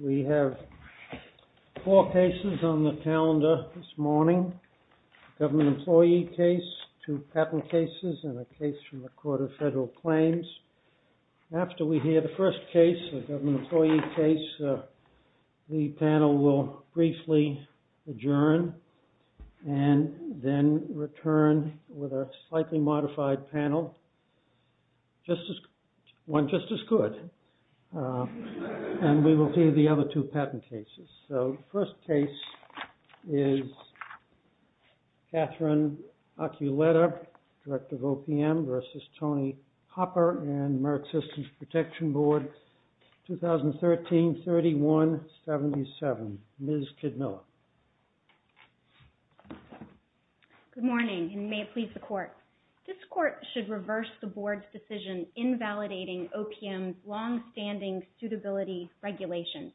We have four cases on the calendar this morning, a government employee case, two patent cases and a case from the Court of Federal Claims. After we hear the first case, the government employee case, the panel will briefly adjourn and then return with a slightly modified panel. One just as good. And we will hear the other two patent cases. So, the first case is Catherine Aculeta, Director of OPM v. Tony Hopper and Merck Systems Protection Board, 2013-31-77. Ms. Kidmiller. This Court should reverse the Board's decision invalidating OPM's longstanding suitability regulations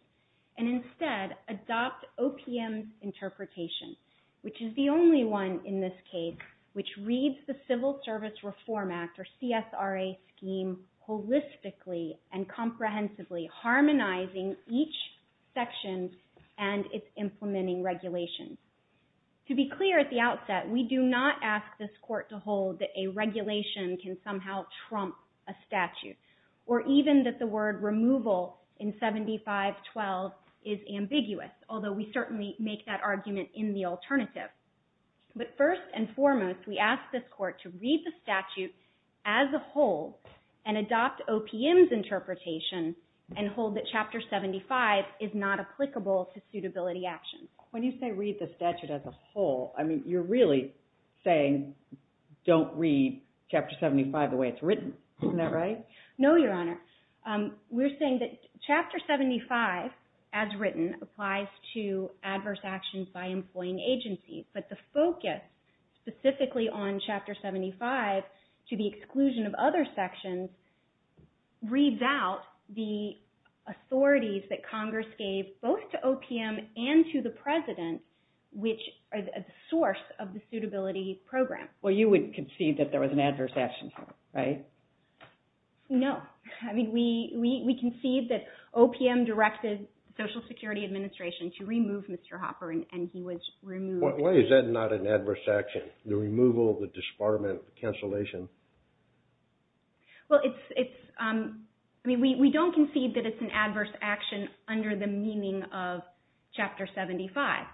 and instead adopt OPM's interpretation, which is the only one in this case which reads the Civil Service Reform Act, or CSRA, scheme holistically and comprehensively, harmonizing each section and its implementing regulations. To be clear at the outset, we do not ask this Court to hold that a regulation can somehow trump a statute or even that the word removal in 75-12 is ambiguous, although we certainly make that argument in the alternative. But first and foremost, we ask this Court to read the statute as a whole and adopt OPM's interpretation and hold that Chapter 75 is not applicable to suitability action. When you say read the statute as a whole, I mean, you're really saying don't read Chapter 75 the way it's written. Isn't that right? No, Your Honor. We're saying that Chapter 75, as written, applies to adverse actions by employing agencies. But the focus specifically on Chapter 75, to the exclusion of other sections, reads out the authorities that Congress gave both to OPM and to the President, which are the source of the suitability program. Well, you would concede that there was an adverse action, right? No. I mean, we concede that OPM directed the Social Security Administration to remove Mr. Hopper, and he was removed. Why is that not an adverse action, the removal, the disbarment, the cancellation? Well, it's – I mean, we don't concede that it's an adverse action under the meaning of Chapter 75.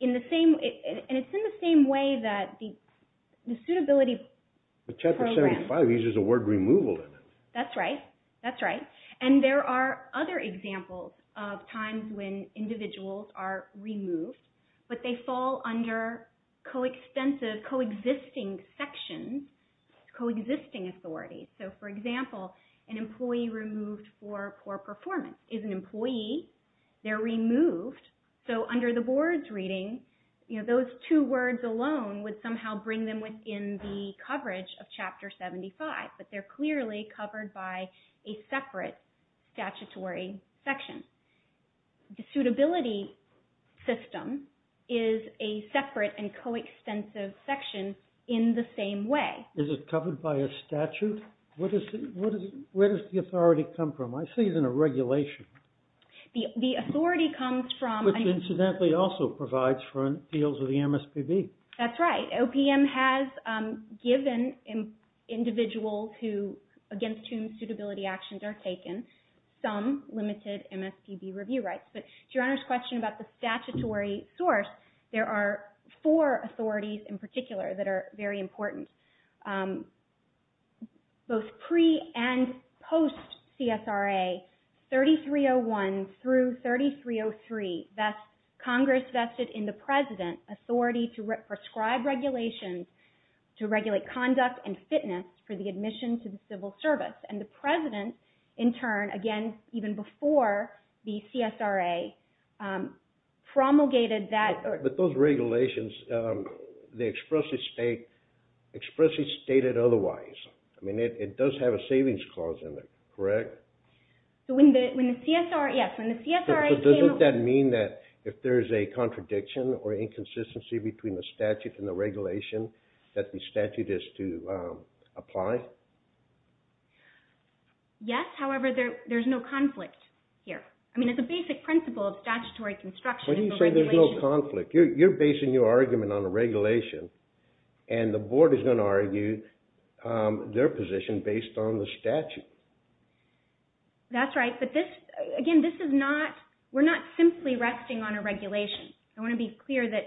In the same – and it's in the same way that the suitability program – But Chapter 75 uses the word removal in it. That's right. That's right. And there are other examples of times when individuals are removed, but they fall under co-existing sections, co-existing authorities. So, for example, an employee removed for poor performance is an employee. They're removed. So under the board's reading, you know, those two words alone would somehow bring them within the coverage of Chapter 75, but they're clearly covered by a separate statutory section. The suitability system is a separate and co-extensive section in the same way. Is it covered by a statute? Where does the authority come from? I see it in a regulation. The authority comes from – Which incidentally also provides for deals with the MSPB. That's right. OPM has given individuals who – against whom suitability actions are taken some limited MSPB review rights. But to Your Honor's question about the statutory source, there are four authorities in particular that are very important. Both pre- and post-CSRA, 3301 through 3303, that's Congress vested in the President authority to prescribe regulations to regulate conduct and fitness for the admission to the civil service. And the President, in turn, again, even before the CSRA, promulgated that – Correct, but those regulations, they expressly stated otherwise. I mean, it does have a savings clause in it, correct? So when the CSRA – yes, when the CSRA came – So doesn't that mean that if there's a contradiction or inconsistency between the statute and the regulation, that the statute is to apply? Yes, however, there's no conflict here. I mean, it's a basic principle of statutory construction. Why do you say there's no conflict? You're basing your argument on a regulation, and the Board is going to argue their position based on the statute. That's right. But this – again, this is not – we're not simply resting on a regulation. I want to be clear that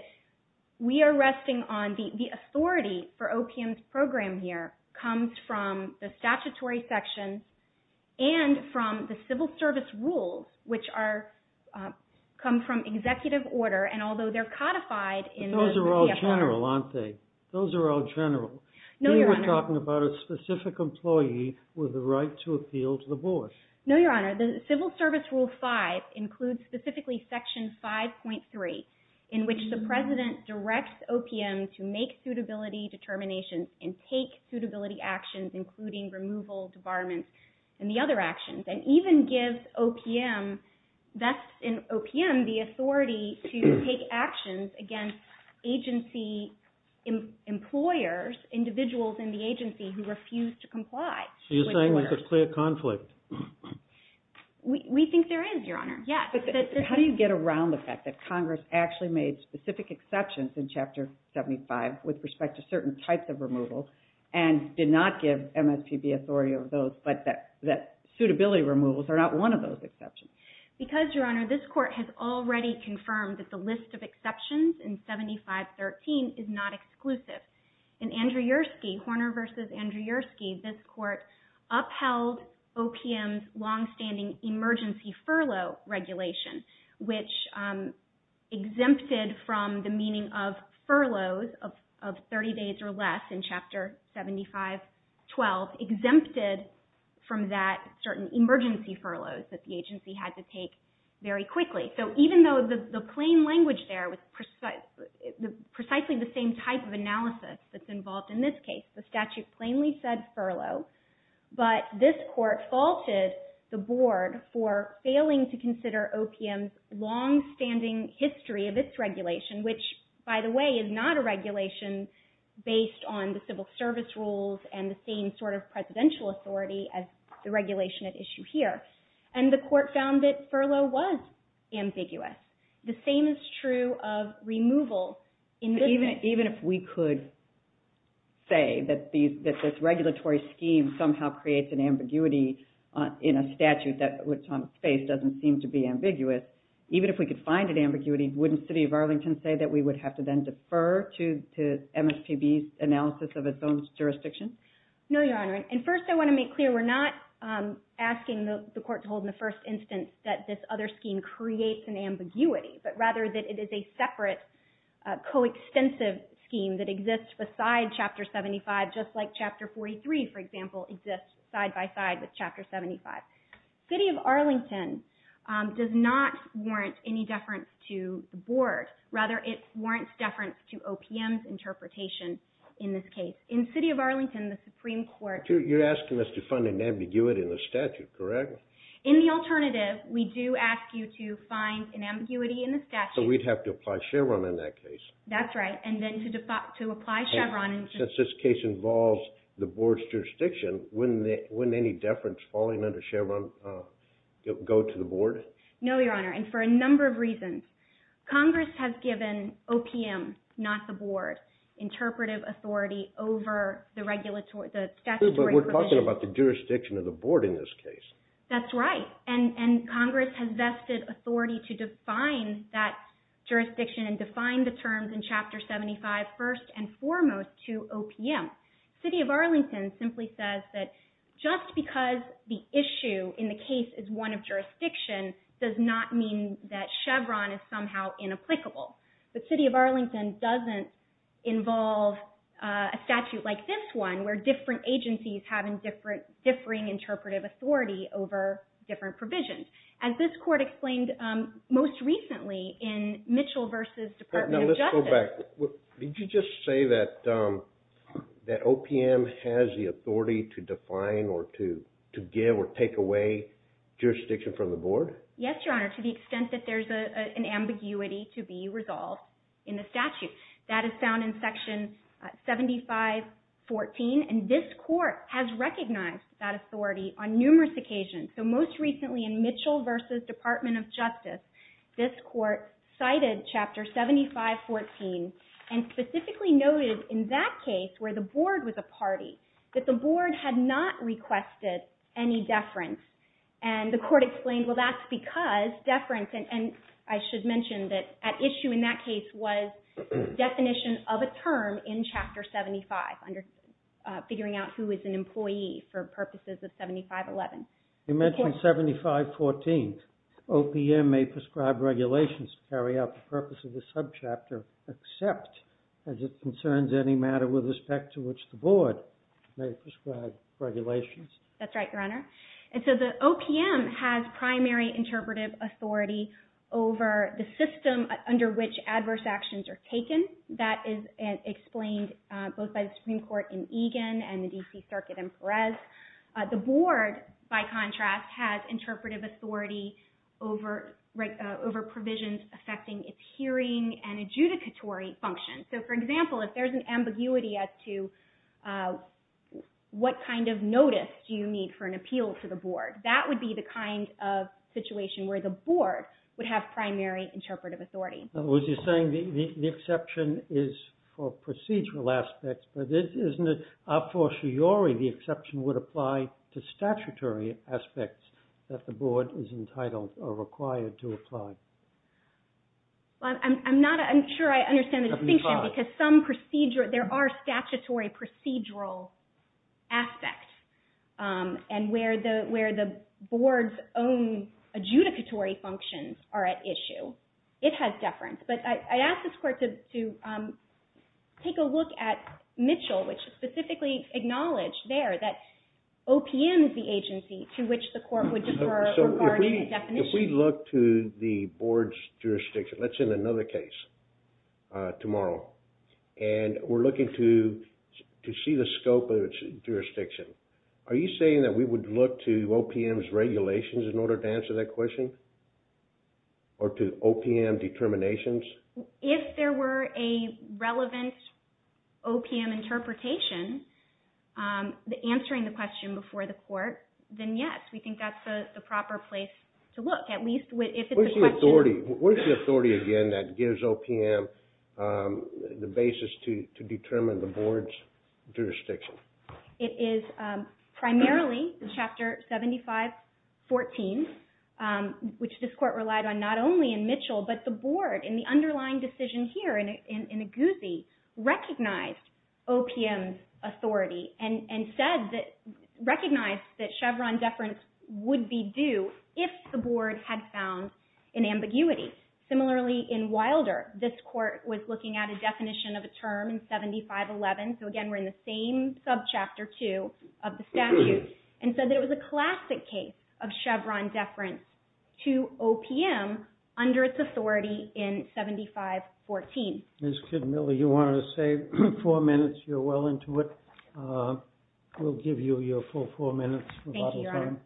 we are resting on – the authority for OPM's program here comes from the statutory sections and from the civil service rules, which come from executive order. And although they're codified in the CFR – But those are all general, aren't they? Those are all general. No, Your Honor – You were talking about a specific employee with the right to appeal to the Board. No, Your Honor. The Civil Service Rule 5 includes specifically Section 5.3, in which the President directs OPM to make suitability determinations and take suitability actions, including removal, debarment, and the other actions, and even gives OPM – thus, in OPM, the authority to take actions against agency employers, individuals in the agency who refuse to comply with orders. You're saying there's a clear conflict. We think there is, Your Honor. Yes. But how do you get around the fact that Congress actually made specific exceptions in Chapter 75 with respect to certain types of removal and did not give MSPB authority over those, but that suitability removals are not one of those exceptions? Because, Your Honor, this Court has already confirmed that the list of exceptions in 7513 is not exclusive. In Andrew Yersky, Horner v. Andrew Yersky, this Court upheld OPM's longstanding emergency furlough regulation, which exempted from the meaning of furloughs of 30 days or less in Chapter 7512, exempted from that certain emergency furloughs that the agency had to take very quickly. So even though the plain language there was precisely the same type of analysis that's involved in this case, the statute plainly said furlough, but this Court faulted the Board for failing to consider OPM's longstanding history of its regulation, which, by the way, is not a regulation based on the civil service rules and the same sort of presidential authority as the regulation at issue here. And the Court found that furlough was ambiguous. The same is true of removal in this case. Even if we could say that this regulatory scheme somehow creates an ambiguity in a statute that what Thomas faced doesn't seem to be ambiguous, even if we could find an ambiguity, wouldn't the City of Arlington say that we would have to then defer to MSPB's analysis of its own jurisdiction? No, Your Honor. And first I want to make clear we're not asking the Court to hold in the first instance that this other scheme creates an ambiguity, but rather that it is a separate, coextensive scheme that exists beside Chapter 75, just like Chapter 43, for example, exists side by side with Chapter 75. City of Arlington does not warrant any deference to the Board. Rather, it warrants deference to OPM's interpretation in this case. In City of Arlington, the Supreme Court... You're asking us to find an ambiguity in the statute, correct? In the alternative, we do ask you to find an ambiguity in the statute. So we'd have to apply Chevron in that case. That's right. And then to apply Chevron... Since this case involves the Board's jurisdiction, wouldn't any deference falling under Chevron go to the Board? No, Your Honor. And for a number of reasons. Congress has given OPM, not the Board, interpretive authority over the statutory provision. But we're talking about the jurisdiction of the Board in this case. That's right. And Congress has vested authority to define that jurisdiction and define the terms in Chapter 75 first and foremost to OPM. City of Arlington simply says that just because the issue in the case is one of jurisdiction does not mean that Chevron is somehow inapplicable. But City of Arlington doesn't involve a statute like this one where different agencies have differing interpretive authority over different provisions. As this Court explained most recently in Mitchell v. Department of Justice... That OPM has the authority to define or to give or take away jurisdiction from the Board? Yes, Your Honor, to the extent that there's an ambiguity to be resolved in the statute. That is found in Section 7514, and this Court has recognized that authority on numerous occasions. So most recently in Mitchell v. Department of Justice, this Court cited Chapter 7514 and specifically noted in that case where the Board was a party, that the Board had not requested any deference. And the Court explained, well, that's because deference... And I should mention that at issue in that case was definition of a term in Chapter 75, figuring out who is an employee for purposes of 7511. You mentioned 7514. OPM may prescribe regulations to carry out the purpose of the subchapter, except as it concerns any matter with respect to which the Board may prescribe regulations. That's right, Your Honor. And so the OPM has primary interpretive authority over the system under which adverse actions are taken. That is explained both by the Supreme Court in Egan and the D.C. Circuit in Perez. The Board, by contrast, has interpretive authority over provisions affecting its hearing and adjudicatory functions. So, for example, if there's an ambiguity as to what kind of notice do you need for an appeal to the Board, that would be the kind of situation where the Board would have primary interpretive authority. Now, was he saying the exception is for procedural aspects, but isn't it a fortiori the exception would apply to statutory aspects that the Board is entitled or required to apply? I'm not sure I understand the distinction, because there are statutory procedural aspects. And where the Board's own adjudicatory functions are at issue, it has deference. But I asked this Court to take a look at Mitchell, which specifically acknowledged there that OPM is the agency to which the Court would defer regarding a definition. If we look to the Board's jurisdiction, let's say in another case tomorrow, and we're looking to see the scope of its jurisdiction, are you saying that we would look to OPM's regulations in order to answer that question? Or to OPM determinations? If there were a relevant OPM interpretation answering the question before the Court, then yes, we think that's the proper place to look. Where's the authority, again, that gives OPM the basis to determine the Board's jurisdiction? It is primarily in Chapter 7514, which this Court relied on not only in Mitchell, but the Board in the underlying decision here in Aguzzi, recognized OPM's authority and recognized that Chevron deference would be due if the Board had found an ambiguity. Similarly, in Wilder, this Court was looking at a definition of a term in 7511, so again, we're in the same subchapter 2 of the statute, and said that it was a classic case of Chevron deference to OPM under its authority in 7514. Ms. Kidmiller, you wanted to save four minutes. You're well into it. We'll give you your full four minutes. Thank you, Your Honor.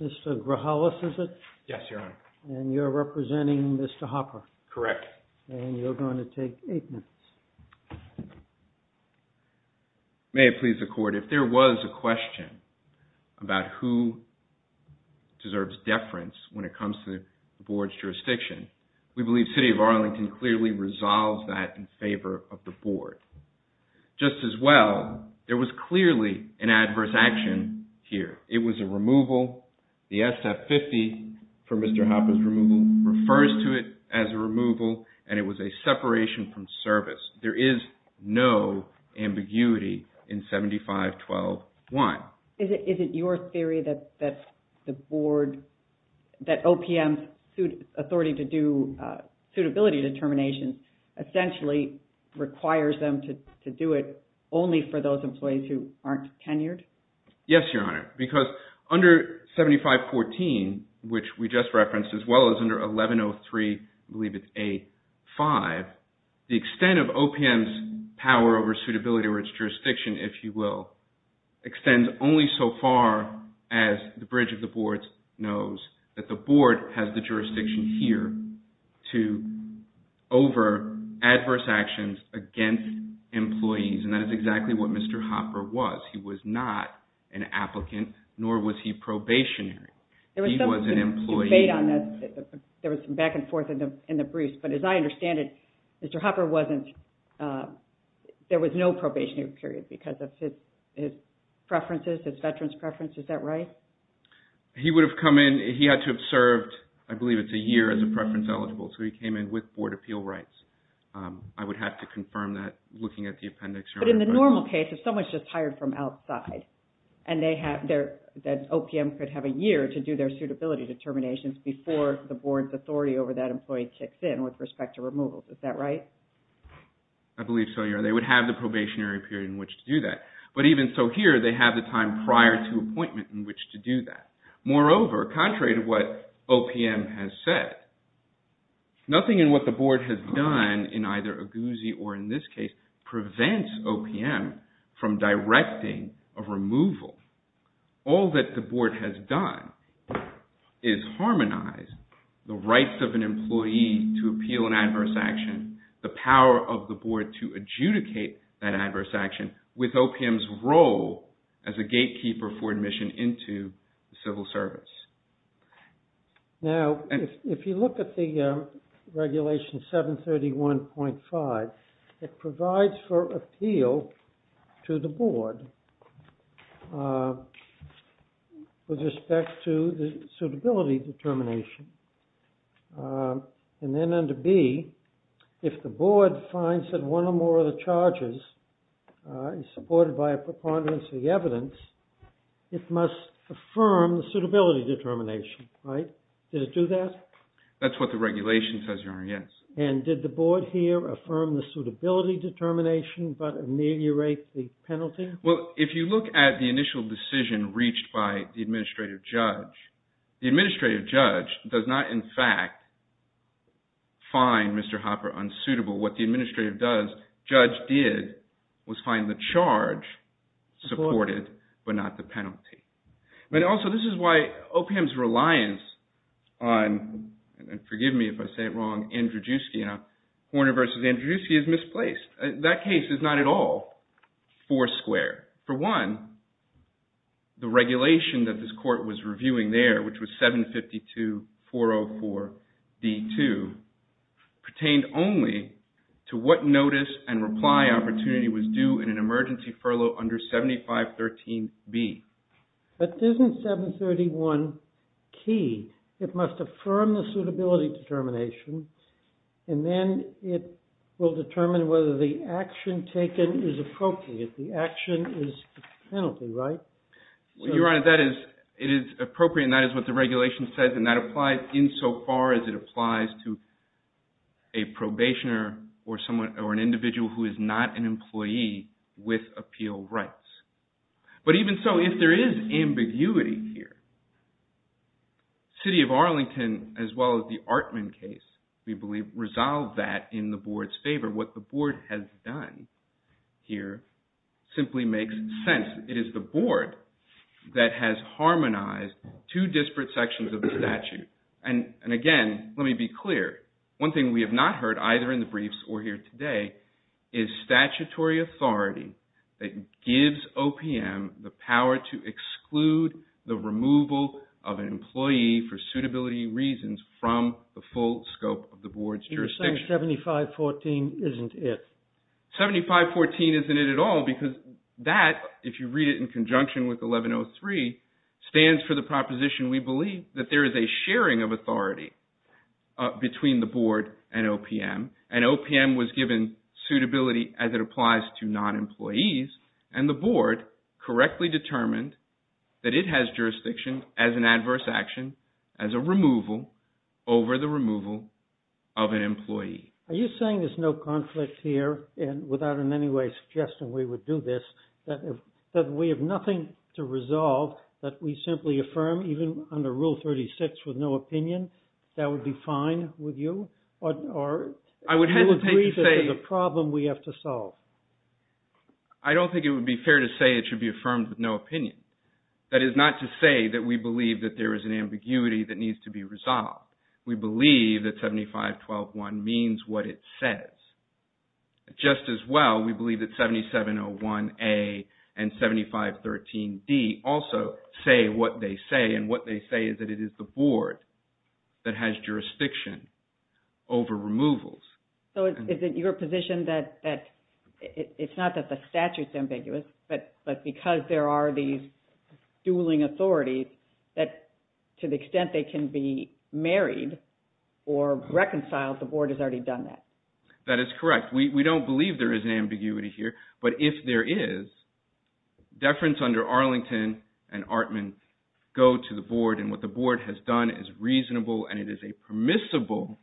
Mr. Grahalis, is it? Yes, Your Honor. And you're representing Mr. Hopper? Correct. And you're going to take eight minutes. May it please the Court, if there was a question about who deserves deference when it comes to the Board's jurisdiction, we believe the City of Arlington clearly resolved that in favor of the Board. Just as well, there was clearly an adverse action here. It was a removal. The SF50 for Mr. Hopper's removal refers to it as a removal, and it was a separation from service. There is no ambiguity in 7512-1. Is it your theory that the Board, that OPM's authority to do suitability determinations essentially requires them to do it only for those employees who aren't tenured? Yes, Your Honor, because under 7514, which we just referenced, as well as under 1103, I believe it's A5, the extent of OPM's power over suitability or its jurisdiction, if you will, extends only so far as the bridge of the Board knows that the Board has the jurisdiction here to over adverse actions against employees, and that is exactly what Mr. Hopper was. He was not an applicant, nor was he probationary. He was an employee. But as I understand it, Mr. Hopper wasn't, there was no probationary period because of his preferences, his veterans' preferences. Is that right? He would have come in, he had to have served, I believe it's a year as a preference eligible, so he came in with Board appeal rights. I would have to confirm that looking at the appendix, Your Honor. But in the normal case, if someone's just hired from outside, and they have their, that OPM could have a year to do their suitability determinations before the Board's authority over that employee kicks in with respect to removal. Is that right? I believe so, Your Honor. They would have the probationary period in which to do that. But even so here, they have the time prior to appointment in which to do that. Moreover, contrary to what OPM has said, nothing in what the Board has done in either Aguzzi or in this case prevents OPM from directing a removal. All that the Board has done is harmonize the rights of an employee to appeal an adverse action, the power of the Board to adjudicate that adverse action with OPM's role as a gatekeeper for admission into the civil service. Now, if you look at the regulation 731.5, it provides for appeal to the Board with respect to the suitability determination. And then under B, if the Board finds that one or more of the charges supported by a preponderance of the evidence, it must affirm the suitability determination. Right? Did it do that? That's what the regulation says, Your Honor, yes. And did the Board here affirm the suitability determination but ameliorate the penalty? Well, if you look at the initial decision reached by the administrative judge, the administrative judge does not in fact find Mr. Hopper unsuitable. What the administrative judge did was find the charge supported but not the penalty. But also this is why OPM's reliance on, and forgive me if I say it wrong, Andrzejewski, Horner v. Andrzejewski is misplaced. That case is not at all four square. For one, the regulation that this court was reviewing there, which was 752.404.D2, pertained only to what notice and reply opportunity was due in an emergency furlough under 7513B. But isn't 731 key? It must affirm the suitability determination and then it will determine whether the action taken is appropriate. The action is the penalty, right? Well, Your Honor, that is, it is appropriate and that is what the regulation says and that applies insofar as it applies to a probationer or an individual who is not an employee with appeal rights. But even so, if there is ambiguity here, the City of Arlington, as well as the Artman case, we believe, resolved that in the board's favor. What the board has done here simply makes sense. It is the board that has harmonized two disparate sections of the statute. And again, let me be clear. One thing we have not heard, either in the briefs or here today, is statutory authority that gives OPM the power to exclude the removal of an employee for suitability reasons from the full scope of the board's jurisdiction. You're saying 7514 isn't it? 7514 isn't it at all because that, if you read it in conjunction with 1103, stands for the proposition we believe that there is a sharing of authority between the board and OPM. And OPM was given suitability as it applies to non-employees and the board correctly determined that it has jurisdiction as an adverse action as a removal over the removal of an employee. Are you saying there's no conflict here, and without in any way suggesting we would do this, that we have nothing to resolve that we simply affirm, even under Rule 36 with no opinion, that would be fine with you? Or do you agree that there's a problem we have to solve? I don't think it would be fair to say it should be affirmed with no opinion. That is not to say that we believe that there is an ambiguity that needs to be resolved. We believe that 7512.1 means what it says. Just as well, we believe that 7701A and 7513D also say what they say, and what they say is that it is the board that has jurisdiction over removals. So is it your position that it's not that the statute is ambiguous, but because there are these dueling authorities, that to the extent they can be married or reconciled, the board has already done that? That is correct. We don't believe there is an ambiguity here, but if there is, deference under Arlington and Artman go to the board, and what the board has done is reasonable, and it is a permissible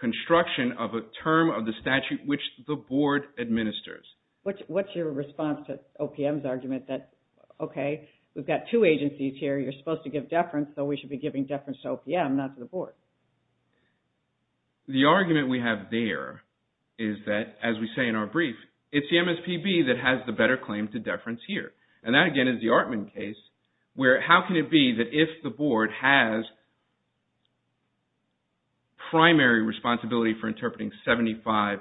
construction of a term of the statute which the board administers. What's your response to OPM's argument that, okay, we've got two agencies here, you're supposed to give deference, so we should be giving deference to OPM, not to the board? The argument we have there is that, as we say in our brief, it's the MSPB that has the better claim to deference here. And that, again, is the Artman case, where how can it be that if the board has primary responsibility for interpreting 7512.3,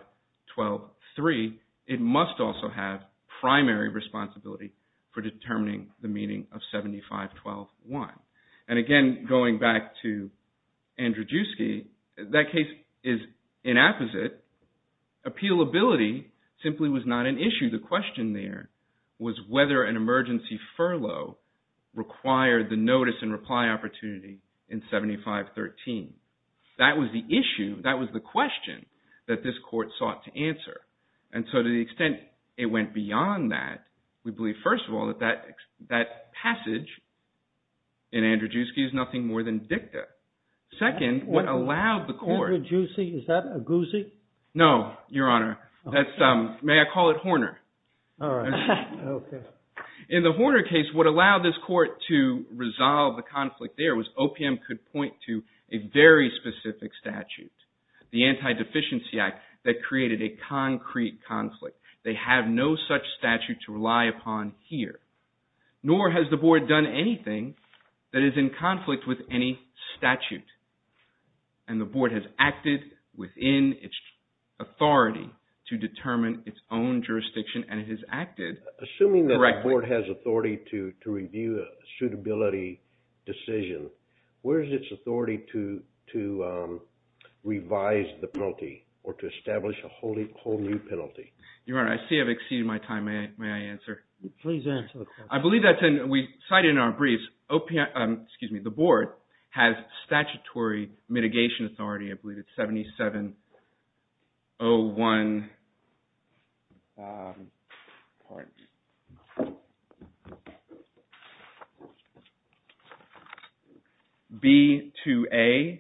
it must also have primary responsibility for determining the meaning of 7512.1? And again, going back to Andrzejewski, that case is inapposite. Appealability simply was not an issue. The question there was whether an emergency furlough required the notice and reply opportunity in 7513. That was the issue. That was the question that this court sought to answer. And so to the extent it went beyond that, we believe, first of all, that that passage in Andrzejewski is nothing more than dicta. Second, what allowed the court- Andrzejewski, is that a goosey? No, Your Honor. May I call it Horner? All right. Okay. In the Horner case, what allowed this court to resolve the conflict there was OPM could point to a very specific statute, the Anti-Deficiency Act, that created a concrete conflict. They have no such statute to rely upon here. Nor has the board done anything that is in conflict with any statute. And the board has acted within its authority to determine its own jurisdiction, and it has acted- Assuming that the board has authority to review a suitability decision, where is its authority to revise the penalty or to establish a whole new penalty? Your Honor, I see I've exceeded my time. May I answer? Please answer the question. I believe that's in- We cite it in our briefs. OPM- Excuse me. The board has statutory mitigation authority. I believe it's 7701B2A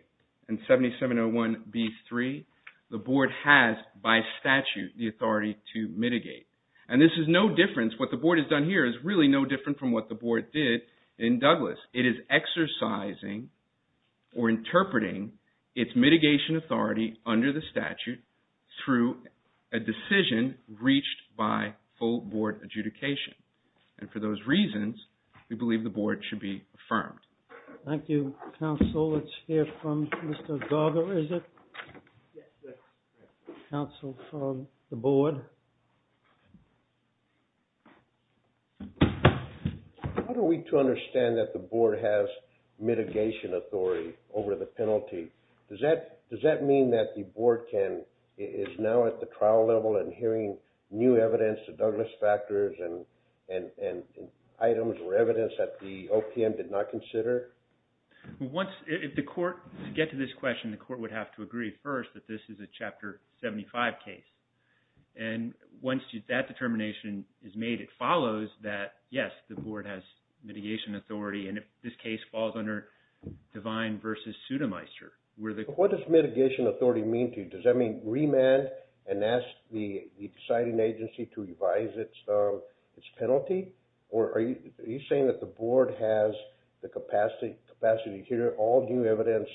and 7701B3. The board has, by statute, the authority to mitigate. And this is no different. What the board has done here is really no different from what the board did in Douglas. It is exercising or interpreting its mitigation authority under the statute through a decision reached by full board adjudication. And for those reasons, we believe the board should be affirmed. Thank you, counsel. Let's hear from Mr. Garber, is it? Yes. Counsel from the board. How do we understand that the board has mitigation authority over the penalty? Does that mean that the board is now at the trial level and hearing new evidence, the Douglas factors and items or evidence that the OPM did not consider? If the court gets to this question, the court would have to agree first that this is a Chapter 75 case. And once that determination is made, it follows that, yes, the board has mitigation authority. And if this case falls under Devine versus Sudemeister. What does mitigation authority mean to you? Does that mean remand and ask the deciding agency to revise its penalty? Or are you saying that the board has the capacity to hear all new evidence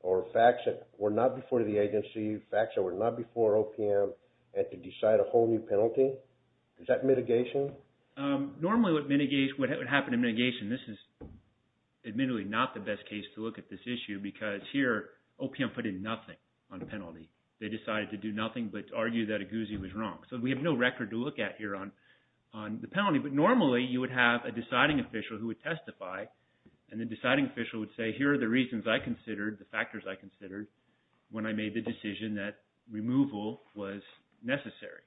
or facts that were not before the agency, facts that were not before OPM, and to decide a whole new penalty? Is that mitigation? Normally what would happen in mitigation, this is admittedly not the best case to look at this issue because here OPM put in nothing on the penalty. They decided to do nothing but argue that Aguzzi was wrong. So we have no record to look at here on the penalty. But normally you would have a deciding official who would testify, and the deciding official would say, here are the reasons I considered, the factors I considered when I made the decision that removal was necessary.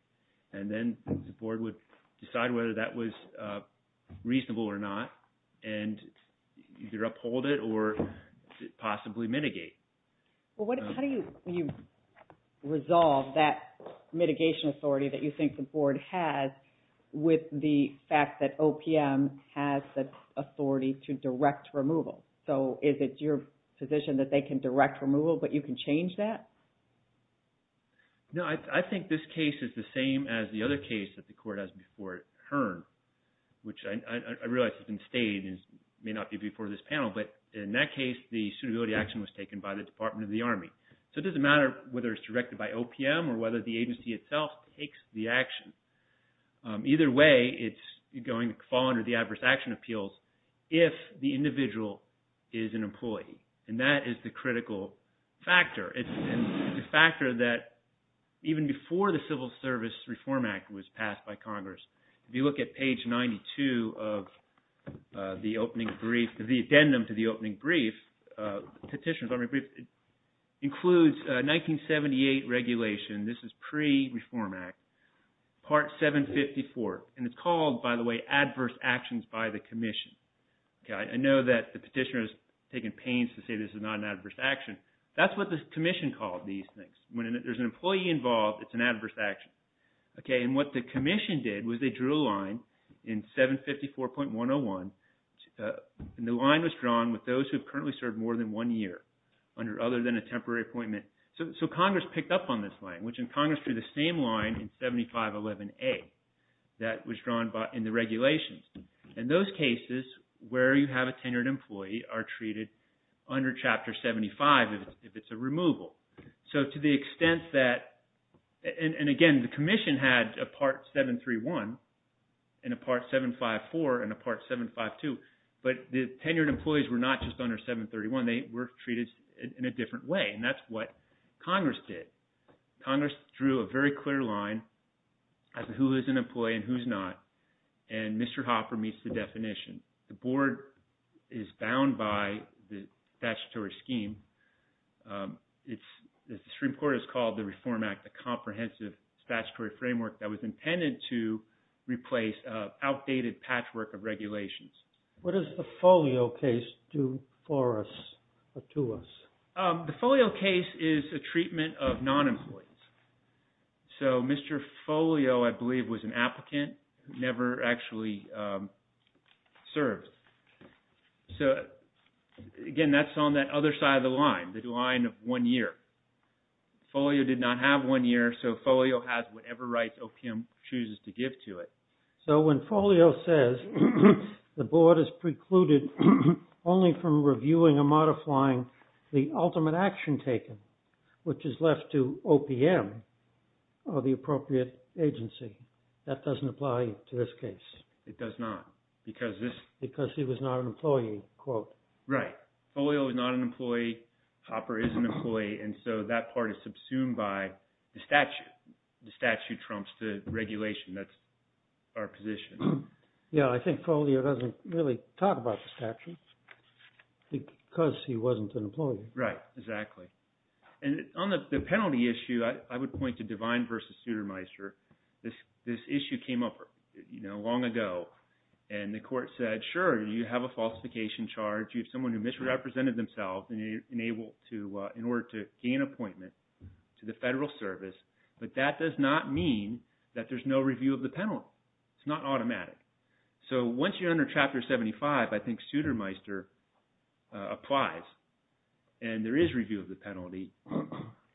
And then the board would decide whether that was reasonable or not and either uphold it or possibly mitigate. Well, how do you resolve that mitigation authority that you think the board has with the fact that OPM has the authority to direct removal? So is it your position that they can direct removal but you can change that? No, I think this case is the same as the other case that the court has before HERN, which I realize has been stated and may not be before this panel, but in that case the suitability action was taken by the Department of the Army. So it doesn't matter whether it's directed by OPM or whether the agency itself takes the action. Either way, it's going to fall under the adverse action appeals if the individual is an employee, and that is the critical factor. It's a factor that even before the Civil Service Reform Act was passed by Congress, if you look at page 92 of the opening brief, the addendum to the opening brief, Petitioner's Opening Brief, includes 1978 regulation, this is pre-Reform Act, part 754, and it's called, by the way, adverse actions by the commission. I know that the petitioner has taken pains to say this is not an adverse action. That's what the commission called these things. When there's an employee involved, it's an adverse action. And what the commission did was they drew a line in 754.101, and the line was drawn with those who have currently served more than one year, other than a temporary appointment. So Congress picked up on this line, which in Congress drew the same line in 7511A that was drawn in the regulations. And those cases where you have a tenured employee are treated under Chapter 75 if it's a removal. So to the extent that, and again, the commission had a part 731 and a part 754 and a part 752, but the tenured employees were not just under 731. They were treated in a different way, and that's what Congress did. Congress drew a very clear line as to who is an employee and who's not, and Mr. Hopper meets the definition. The board is bound by the statutory scheme. The Supreme Court has called the Reform Act a comprehensive statutory framework that was intended to replace outdated patchwork of regulations. What does the Folio case do for us or to us? The Folio case is a treatment of non-employees. So Mr. Folio, I believe, was an applicant who never actually served. So, again, that's on that other side of the line, the line of one year. Folio did not have one year, so Folio has whatever rights OPM chooses to give to it. So when Folio says the board is precluded only from reviewing or modifying the ultimate action taken, which is left to OPM or the appropriate agency, that doesn't apply to this case. It does not because this… Because he was not an employee, quote. Right. Folio is not an employee. Hopper is an employee. And so that part is subsumed by the statute. The statute trumps the regulation. That's our position. Yeah, I think Folio doesn't really talk about the statute because he wasn't an employee. Right, exactly. And on the penalty issue, I would point to Devine v. Sutermeister. This issue came up long ago, and the court said, sure, you have a falsification charge. You have someone who misrepresented themselves in order to gain appointment to the federal service. But that does not mean that there's no review of the penalty. It's not automatic. So once you're under Chapter 75, I think Sutermeister applies, and there is review of the penalty.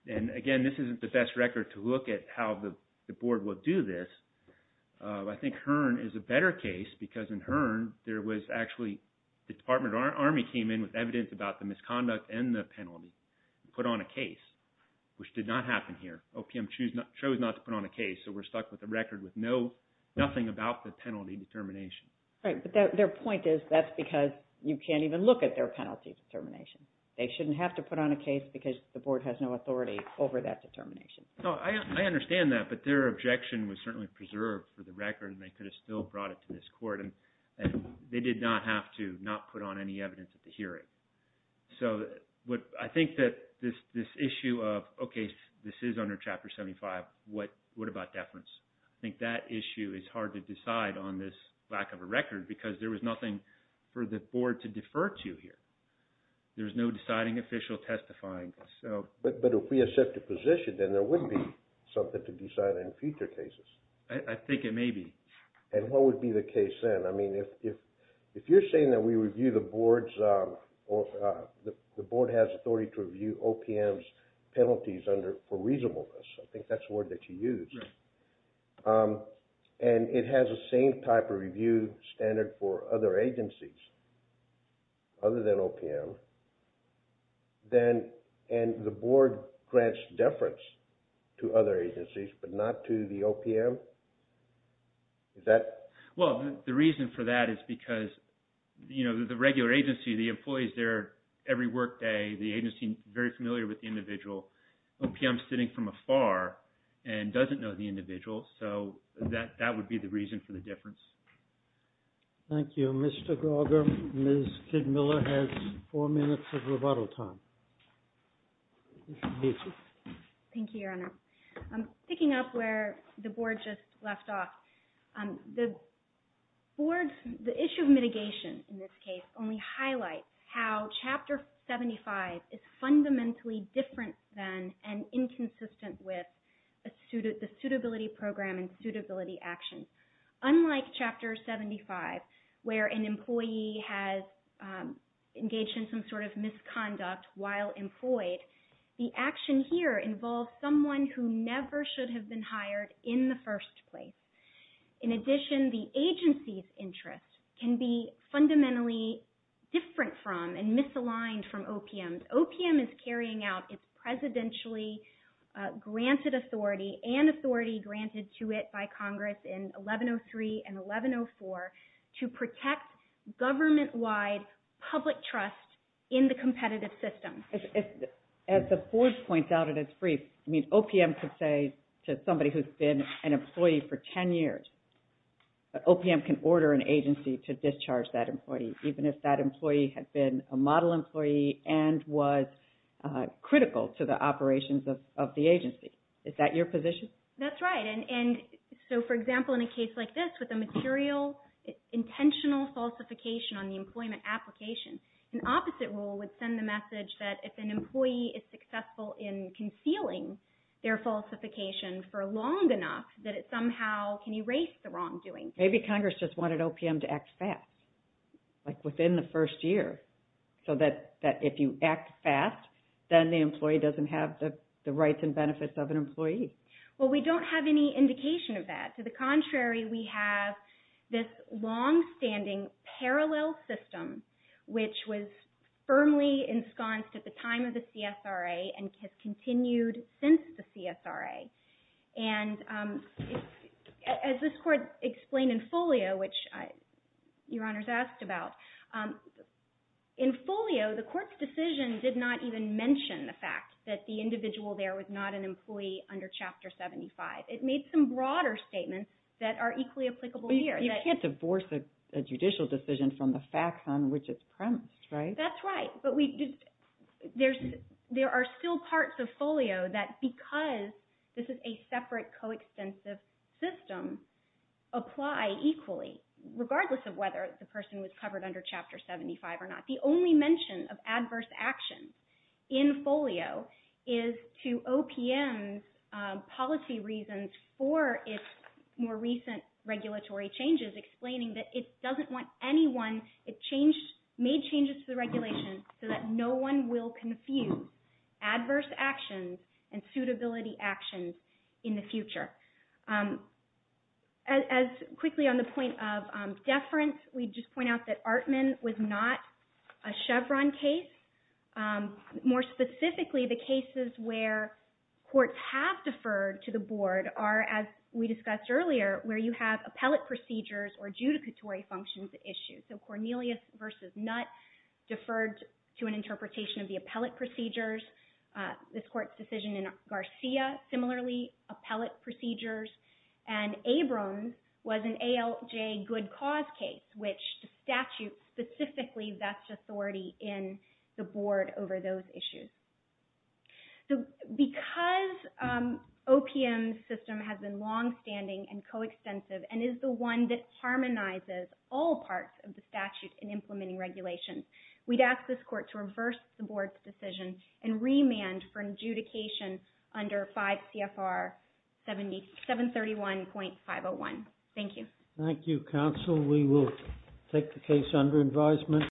And again, this isn't the best record to look at how the board would do this. I think Hearn is a better case because in Hearn, there was actually… the Department of Army came in with evidence about the misconduct and the penalty and put on a case, which did not happen here. OPM chose not to put on a case, so we're stuck with a record with nothing about the penalty determination. Right, but their point is that's because you can't even look at their penalty determination. They shouldn't have to put on a case because the board has no authority over that determination. No, I understand that, but their objection was certainly preserved for the record, and they could have still brought it to this court. And they did not have to not put on any evidence at the hearing. So I think that this issue of, okay, this is under Chapter 75. What about deference? I think that issue is hard to decide on this lack of a record because there was nothing for the board to defer to here. There's no deciding official testifying. But if we had set the position, then there would be something to decide in future cases. I think it may be. And what would be the case then? I mean, if you're saying that we review the board's… the board has authority to review OPM's penalties for reasonableness, I think that's the word that you used. Right. And it has the same type of review standard for other agencies other than OPM. And the board grants deference to other agencies, but not to the OPM? Well, the reason for that is because, you know, the regular agency, the employees there, every work day, the agency is very familiar with the individual. OPM is sitting from afar and doesn't know the individual. So that would be the reason for the deference. Thank you. Mr. Gauger, Ms. Kidmiller has four minutes of rebuttal time. Thank you, Your Honor. Picking up where the board just left off, the board's… in this case, only highlights how Chapter 75 is fundamentally different than and inconsistent with the suitability program and suitability action. Unlike Chapter 75, where an employee has engaged in some sort of misconduct while employed, the action here involves someone who never should have been hired in the first place. In addition, the agency's interest can be fundamentally different from and misaligned from OPM's. OPM is carrying out its presidentially granted authority and authority granted to it by Congress in 1103 and 1104 to protect government-wide public trust in the competitive system. As the board points out in its brief, I mean, OPM could say to somebody who's been an employee for 10 years, that OPM can order an agency to discharge that employee, even if that employee had been a model employee and was critical to the operations of the agency. Is that your position? That's right. And so, for example, in a case like this, with a material, intentional falsification on the employment application, an opposite rule would send the message that if an employee is successful in concealing their falsification for long enough, that it somehow can erase the wrongdoing. Maybe Congress just wanted OPM to act fast, like within the first year, so that if you act fast, then the employee doesn't have the rights and benefits of an employee. Well, we don't have any indication of that. To the contrary, we have this longstanding parallel system, which was firmly ensconced at the time of the CSRA and has continued since the CSRA. And as this Court explained in Folio, which Your Honors asked about, in Folio, the Court's decision did not even mention the fact that the individual there was not an employee under Chapter 75. It made some broader statements that are equally applicable here. You can't divorce a judicial decision from the facts on which it's premised, right? That's right. But there are still parts of Folio that, because this is a separate, coextensive system, apply equally, regardless of whether the person was covered under Chapter 75 or not. The only mention of adverse actions in Folio is to OPM's policy reasons for its more recent regulatory changes, explaining that it doesn't want anyone—it made changes to the regulation so that no one will confuse adverse actions and suitability actions in the future. As quickly on the point of deference, we just point out that Artman was not a Chevron case. More specifically, the cases where courts have deferred to the Board are, as we discussed earlier, where you have appellate procedures or adjudicatory functions at issue. So Cornelius v. Nutt deferred to an interpretation of the appellate procedures. This court's decision in Garcia, similarly, appellate procedures. And Abrams was an ALJ good cause case, which the statute specifically vests authority in the Board over those issues. So because OPM's system has been longstanding and coextensive and is the one that harmonizes all parts of the statute We'd ask this court to reverse the Board's decision and remand for adjudication under 5 CFR 731.501. Thank you. Thank you, counsel. We will take the case under advisement.